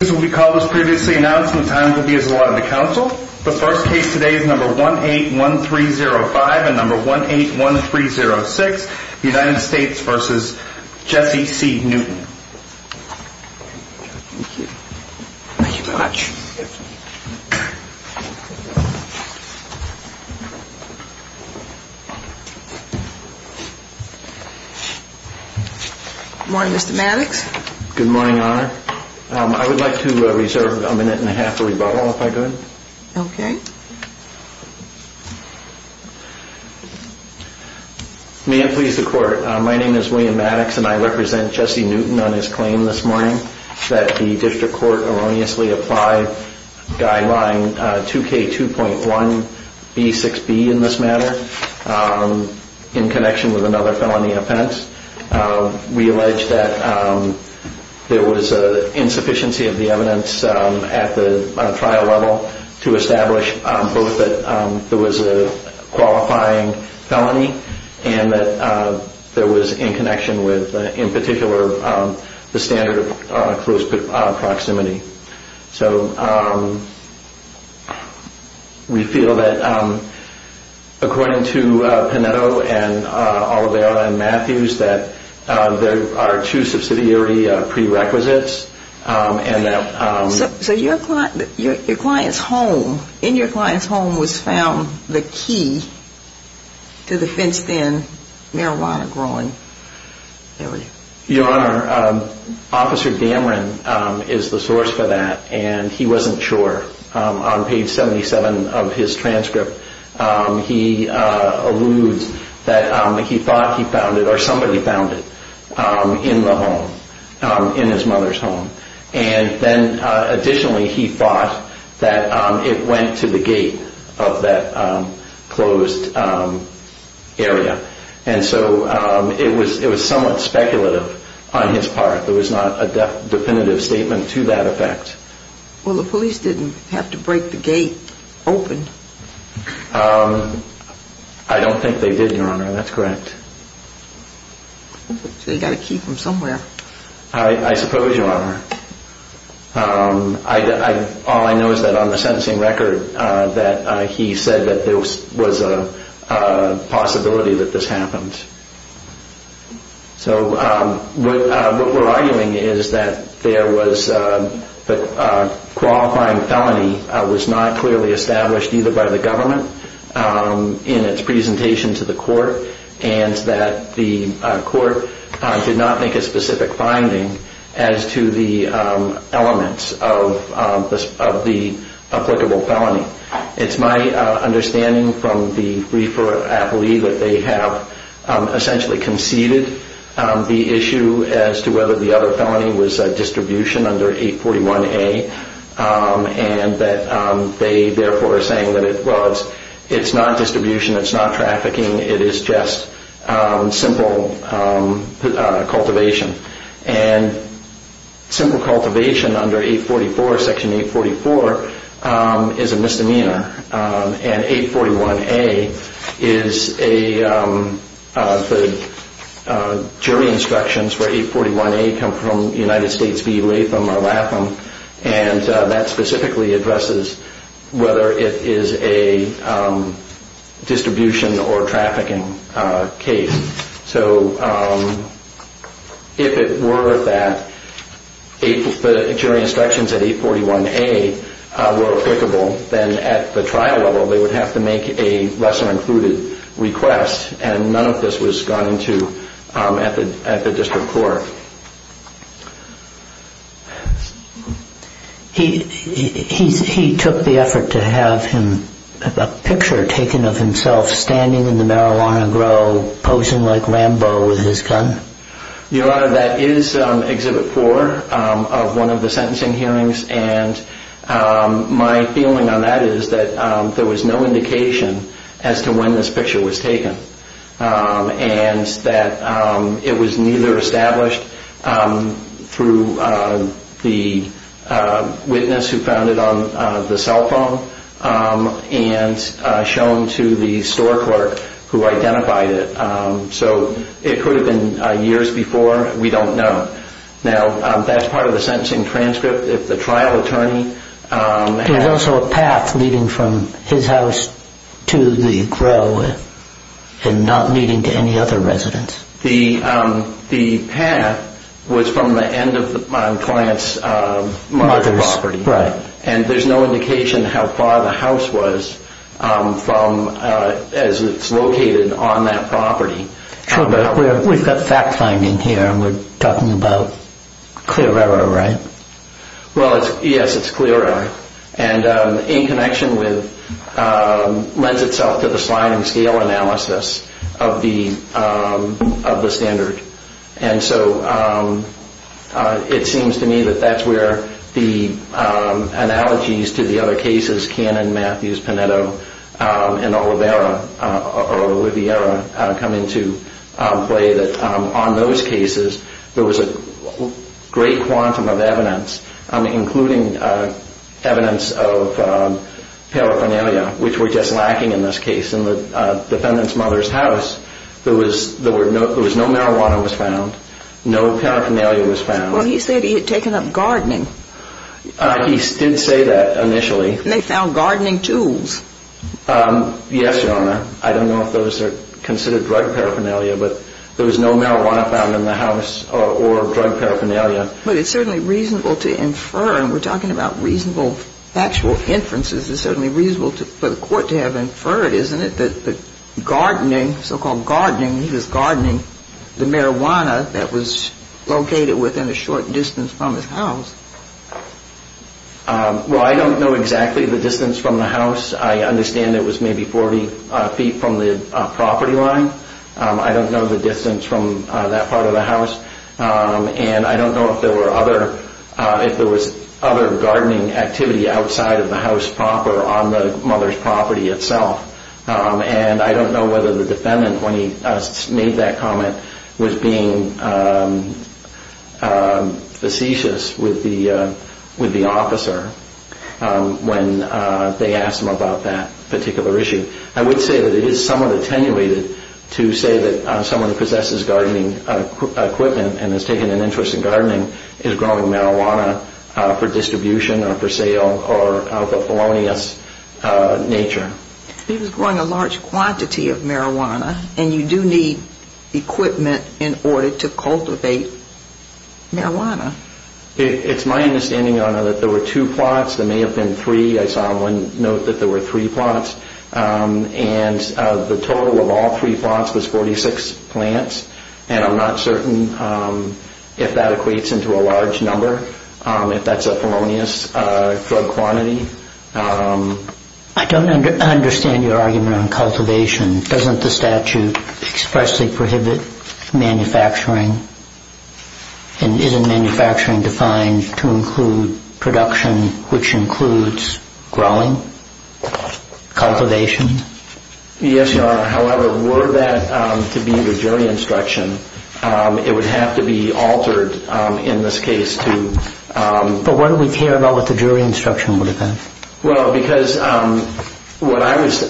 The first case today is number 181305 and number 181306, the United States v. Jesse C. Newton. Thank you. Thank you very much. Good morning, Mr. Maddox. Good morning, Your Honor. I would like to reserve a minute and a half for rebuttal, if I could. Okay. May it please the Court, my name is William Maddox and I represent Jesse Newton on his claim this morning that the District Court erroneously applied guideline 2K2.1B6B in this matter in connection with another felony offense. We allege that there was an insufficiency of the evidence at the trial level to establish both that there was a qualifying felony and that there was in connection with, in particular, the standard of close proximity. So we feel that according to Panetto and Oliveira and Matthews that there are two subsidiary prerequisites and that... So your client's home, in your client's home was found the key to the fenced in marijuana growing area. Your Honor, Officer Dameron is the source for that and he wasn't sure. On page 77 of his transcript, he alludes that he thought he found it or somebody found it in the home, in his mother's home. And then additionally, he thought that it went to the gate of that closed area. And so it was somewhat speculative on his part. There was not a definitive statement to that effect. Well, the police didn't have to break the gate open. I don't think they did, Your Honor. That's correct. They got a key from somewhere. I suppose you are. All I know is that on the sentencing record that he said that there was a possibility that this happened. So what we're arguing is that there was a qualifying felony was not clearly established either by the government in its presentation to the court and that the court did not make a specific finding as to the elements of the applicable felony. It's my understanding from the briefer, I believe, that they have essentially conceded the issue as to whether the other felony was distribution under 841A and that they therefore are saying that it was. It's not distribution. It's not trafficking. It is just simple cultivation. And simple cultivation under 844, Section 844, is a misdemeanor. And 841A is a jury instructions for 841A come from United States v. Latham or Ratham. And that specifically addresses whether it is a distribution or trafficking case. So if it were that the jury instructions at 841A were applicable, then at the trial level they would have to make a lesser included request. And none of this was gone into at the district court. He took the effort to have a picture taken of himself standing in the marijuana grow, posing like Rambo with his gun? Your Honor, that is Exhibit 4 of one of the sentencing hearings. And my feeling on that is that there was no indication as to when this picture was taken. And that it was neither established through the witness who found it on the cell phone and shown to the store clerk who identified it. So it could have been years before. We don't know. Now, that's part of the sentencing transcript. And also a path leading from his house to the grow and not leading to any other residence. The path was from the end of the client's mother's property. And there's no indication how far the house was as it's located on that property. We've got fact-finding here and we're talking about clear error, right? Well, yes, it's clear error. And in connection with, lends itself to the sliding scale analysis of the standard. And so it seems to me that that's where the analogies to the other cases, Cannon, Matthews, Panetto, and Oliveira come into play. That on those cases, there was a great quantum of evidence, including evidence of paraphernalia, which we're just lacking in this case. In the defendant's mother's house, there was no marijuana was found. No paraphernalia was found. Well, he said he had taken up gardening. He did say that initially. And they found gardening tools. Yes, Your Honor. I don't know if those are considered drug paraphernalia, but there was no marijuana found in the house or drug paraphernalia. But it's certainly reasonable to infer, and we're talking about reasonable factual inferences, it's certainly reasonable for the court to have inferred, isn't it, that the gardening, so-called gardening, he was gardening the marijuana that was located within a short distance from his house. Well, I don't know exactly the distance from the house. I understand it was maybe 40 feet from the property line. I don't know the distance from that part of the house. And I don't know if there was other gardening activity outside of the house proper on the mother's property itself. And I don't know whether the defendant, when he made that comment, was being facetious with the officer when they asked him about that particular issue. I would say that it is somewhat attenuated to say that someone who possesses gardening equipment and has taken an interest in gardening is growing marijuana for distribution or for sale or of a felonious nature. He was growing a large quantity of marijuana, and you do need equipment in order to cultivate marijuana. It's my understanding, Your Honor, that there were two plots. There may have been three. I saw one note that there were three plots. And the total of all three plots was 46 plants, and I'm not certain if that equates into a large number, if that's a felonious drug quantity. I don't understand your argument on cultivation. Doesn't the statute expressly prohibit manufacturing? And isn't manufacturing defined to include production, which includes growing, cultivation? Yes, Your Honor. However, were that to be the jury instruction, it would have to be altered in this case to... But why do we care about what the jury instruction would have been? Well, because what I was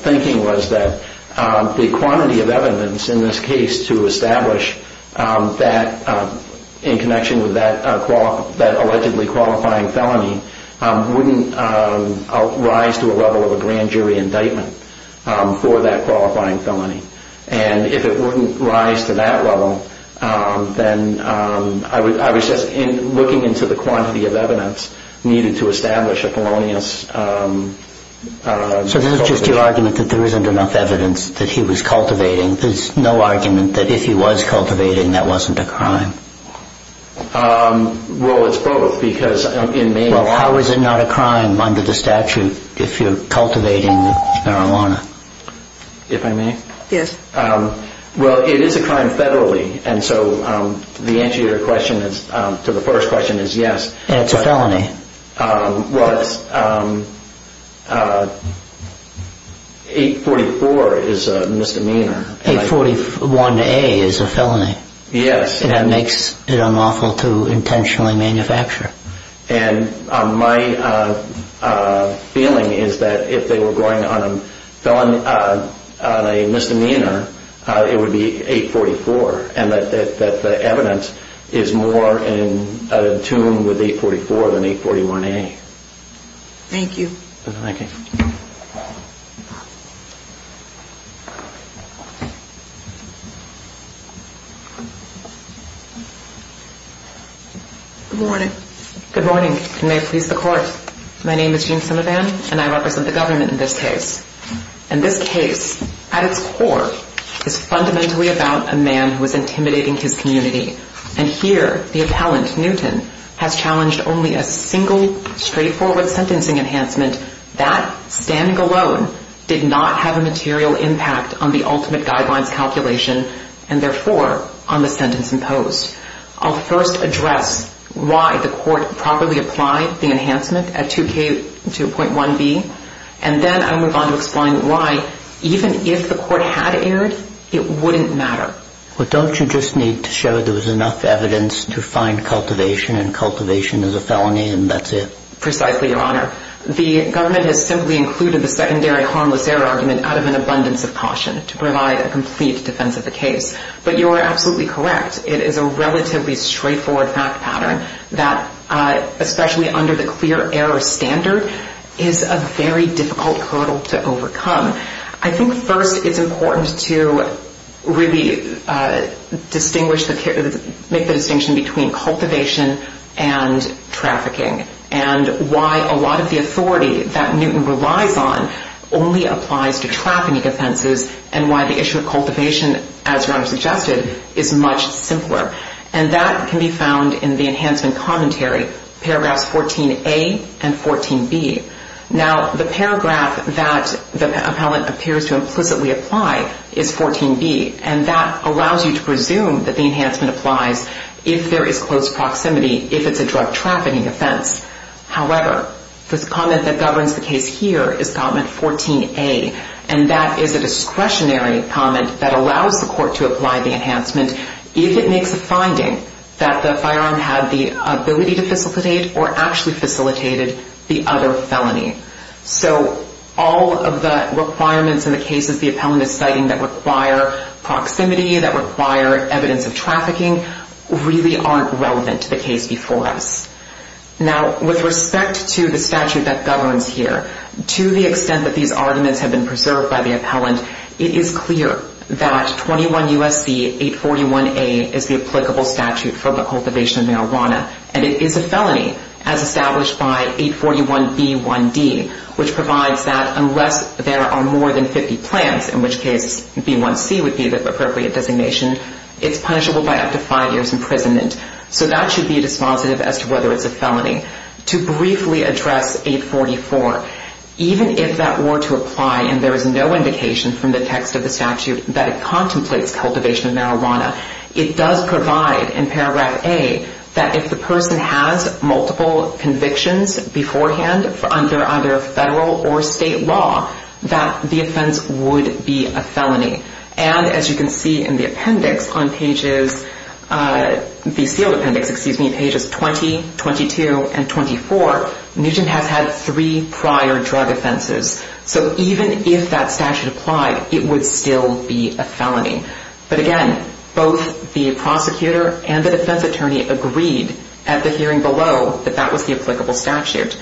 thinking was that the quantity of evidence in this case to establish that in connection with that allegedly qualifying felony wouldn't rise to a level of a grand jury indictment for that qualifying felony. And if it wouldn't rise to that level, then I was just looking into the quantity of evidence needed to establish a felonious... So this is just your argument that there isn't enough evidence that he was cultivating. There's no argument that if he was cultivating, that wasn't a crime. Well, it's both, because it may... Well, how is it not a crime under the statute if you're cultivating marijuana? If I may? Yes. Well, it is a crime federally, and so the answer to the first question is yes. And it's a felony. Well, 844 is a misdemeanor. 841A is a felony. Yes. And that makes it unlawful to intentionally manufacture. And my feeling is that if they were going on a misdemeanor, it would be 844, and that the evidence is more in tune with 844 than 841A. Thank you. Thank you. Good morning. Good morning. May it please the Court. My name is Jean Simivan, and I represent the government in this case. And this case, at its core, is fundamentally about a man who is intimidating his community. And here, the appellant, Newton, has challenged only a single straightforward sentencing enhancement. That, standing alone, did not have a material impact on the ultimate guidelines calculation and, therefore, on the sentence imposed. I'll first address why the Court properly applied the enhancement at 2K2.1B, and then I'll move on to explain why, even if the Court had erred, it wouldn't matter. Well, don't you just need to show there was enough evidence to find cultivation and cultivation is a felony and that's it? Precisely, Your Honor. The government has simply included the secondary harmless error argument out of an abundance of caution to provide a complete defense of the case. But you are absolutely correct. It is a relatively straightforward fact pattern that, especially under the clear error standard, is a very difficult hurdle to overcome. I think, first, it's important to really make the distinction between cultivation and trafficking and why a lot of the authority that Newton relies on only applies to trafficking offenses and why the issue of cultivation, as Your Honor suggested, is much simpler. And that can be found in the enhancement commentary, paragraphs 14A and 14B. Now, the paragraph that the appellant appears to implicitly apply is 14B, and that allows you to presume that the enhancement applies if there is close proximity, if it's a drug trafficking offense. However, this comment that governs the case here is comment 14A, and that is a discretionary comment that allows the court to apply the enhancement if it makes a finding that the firearm had the ability to facilitate or actually facilitated the other felony. So all of the requirements in the cases the appellant is citing that require proximity, that require evidence of trafficking, really aren't relevant to the case before us. Now, with respect to the statute that governs here, to the extent that these arguments have been preserved by the appellant, it is clear that 21 U.S.C. 841A is the applicable statute for the cultivation of marijuana, and it is a felony as established by 841B1D, which provides that unless there are more than 50 plants, in which case B1C would be the appropriate designation, it's punishable by up to five years imprisonment. So that should be dispositive as to whether it's a felony. To briefly address 844, even if that were to apply and there is no indication from the text of the statute that it contemplates cultivation of marijuana, it does provide in paragraph A that if the person has multiple convictions beforehand under either federal or state law, that the offense would be a felony. And as you can see in the appendix on pages, the sealed appendix, excuse me, pages 20, 22, and 24, Newton has had three prior drug offenses. So even if that statute applied, it would still be a felony. But again, both the prosecutor and the defense attorney agreed at the hearing below that that was the applicable statute.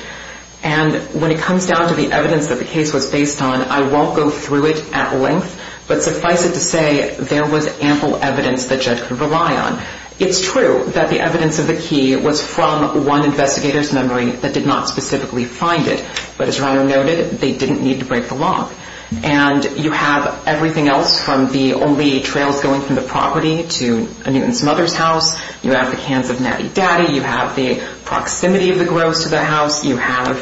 And when it comes down to the evidence that the case was based on, I won't go through it at length, but suffice it to say, there was ample evidence the judge could rely on. It's true that the evidence of the key was from one investigator's memory that did not specifically find it. But as Ryan noted, they didn't need to break the law. And you have everything else from the only trails going from the property to a Newton's mother's house, you have the cans of Natty Daddy, you have the proximity of the Gros to the house, you have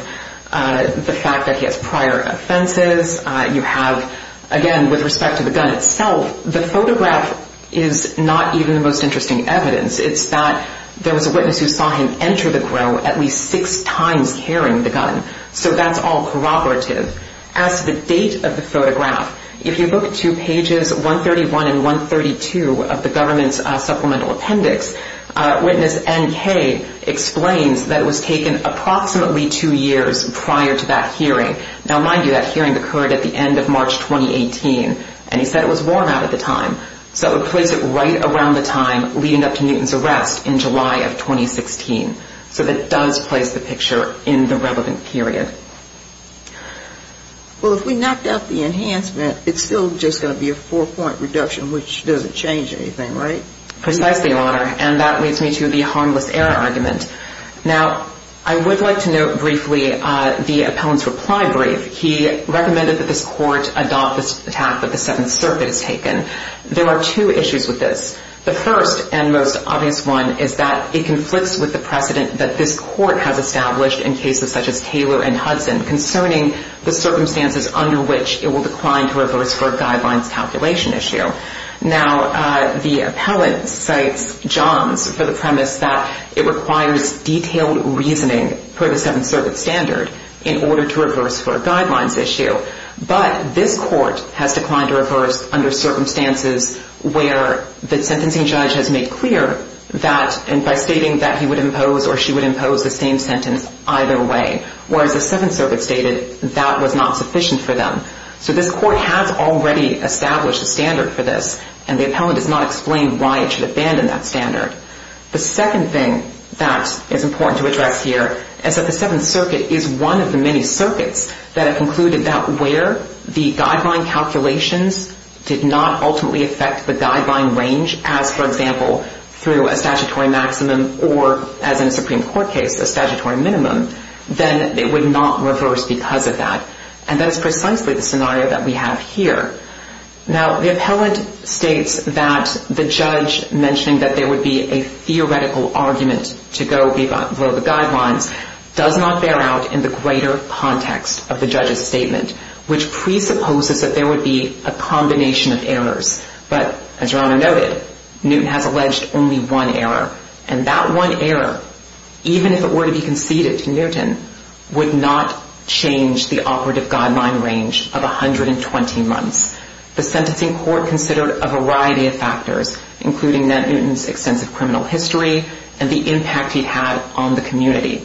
the fact that he has prior offenses, you have, again, with respect to the gun itself, the photograph is not even the most interesting evidence. It's that there was a witness who saw him enter the Gros at least six times carrying the gun. So that's all corroborative. As to the date of the photograph, if you look to pages 131 and 132 of the government's supplemental appendix, witness N.K. explains that it was taken approximately two years prior to that hearing. Now, mind you, that hearing occurred at the end of March 2018, and he said it was worn out at the time. So it would place it right around the time leading up to Newton's arrest in July of 2016. So that does place the picture in the relevant period. Well, if we knocked out the enhancement, it's still just going to be a four-point reduction, which doesn't change anything, right? Precisely, Your Honor, and that leads me to the harmless error argument. Now, I would like to note briefly the appellant's reply brief. He recommended that this court adopt this attack that the Seventh Circuit has taken. There are two issues with this. The first and most obvious one is that it conflicts with the precedent that this court has established in cases such as Taylor and Hudson concerning the circumstances under which it will decline to reverse for a guidelines calculation issue. Now, the appellant cites Johns for the premise that it requires detailed reasoning per the Seventh Circuit standard in order to reverse for a guidelines issue. But this court has declined to reverse under circumstances where the sentencing judge has made clear that by stating that he would impose or she would impose the same sentence either way, whereas the Seventh Circuit stated that was not sufficient for them. So this court has already established a standard for this, and the appellant has not explained why it should abandon that standard. The second thing that is important to address here is that the Seventh Circuit is one of the many circuits that have concluded that where the guideline calculations did not ultimately affect the guideline range, as for example through a statutory maximum or, as in a Supreme Court case, a statutory minimum, then it would not reverse because of that. And that is precisely the scenario that we have here. Now, the appellant states that the judge mentioning that there would be a theoretical argument to go below the guidelines does not bear out in the greater context of the judge's statement, which presupposes that there would be a combination of errors. But, as Rana noted, Newton has alleged only one error, and that one error, even if it were to be conceded to Newton, would not change the operative guideline range of 120 months. The sentencing court considered a variety of factors, including that Newton's extensive criminal history and the impact he had on the community.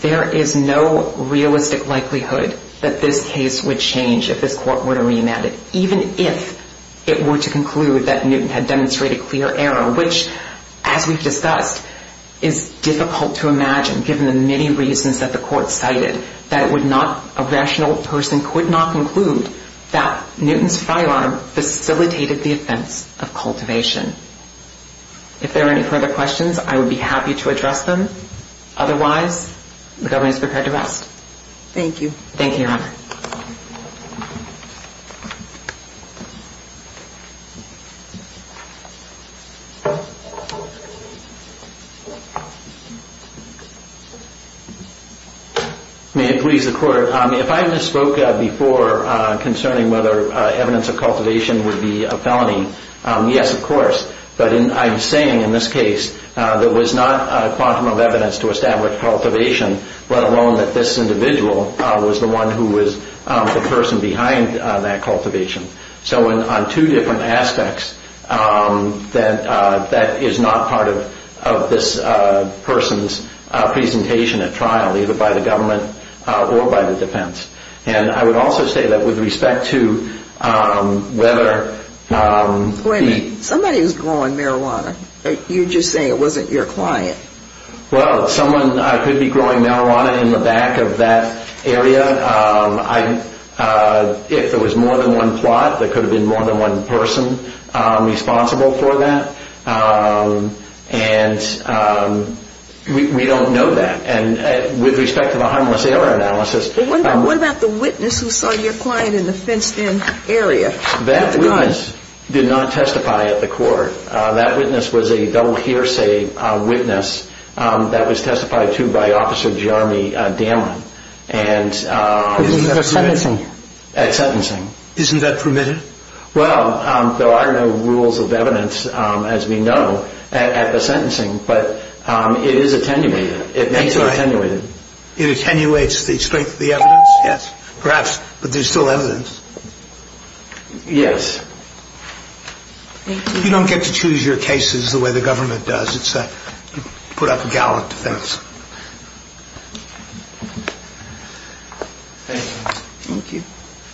There is no realistic likelihood that this case would change if this court were to remand it, even if it were to conclude that Newton had demonstrated clear error, which, as we've discussed, is difficult to imagine given the many reasons that the court cited, that a rational person could not conclude that Newton's firearm facilitated the offense of cultivation. If there are any further questions, I would be happy to address them. Otherwise, the government is prepared to rest. Thank you. Thank you, Rana. May it please the Court. If I misspoke before concerning whether evidence of cultivation would be a felony, yes, of course. But I'm saying in this case there was not a quantum of evidence to establish cultivation, let alone that this individual was the one who was the person behind that cultivation. So on two different aspects, that is not part of this person's presentation at trial, either by the government or by the defense. And I would also say that with respect to whether the ---- Wait a minute. Somebody was growing marijuana. You're just saying it wasn't your client. Well, someone could be growing marijuana in the back of that area. If there was more than one plot, there could have been more than one person responsible for that. And we don't know that. And with respect to the harmless error analysis ---- What about the witness who saw your client in the fenced-in area? That witness did not testify at the court. That witness was a double hearsay witness that was testified to by Officer Jeremy Damman. At sentencing? At sentencing. Isn't that permitted? Well, there are no rules of evidence, as we know, at the sentencing. But it is attenuated. It may be attenuated. It attenuates the strength of the evidence? Yes. Perhaps. But there's still evidence. Yes. You don't get to choose your cases the way the government does. It's a put-up-a-gallon defense. Thank you. Thank you.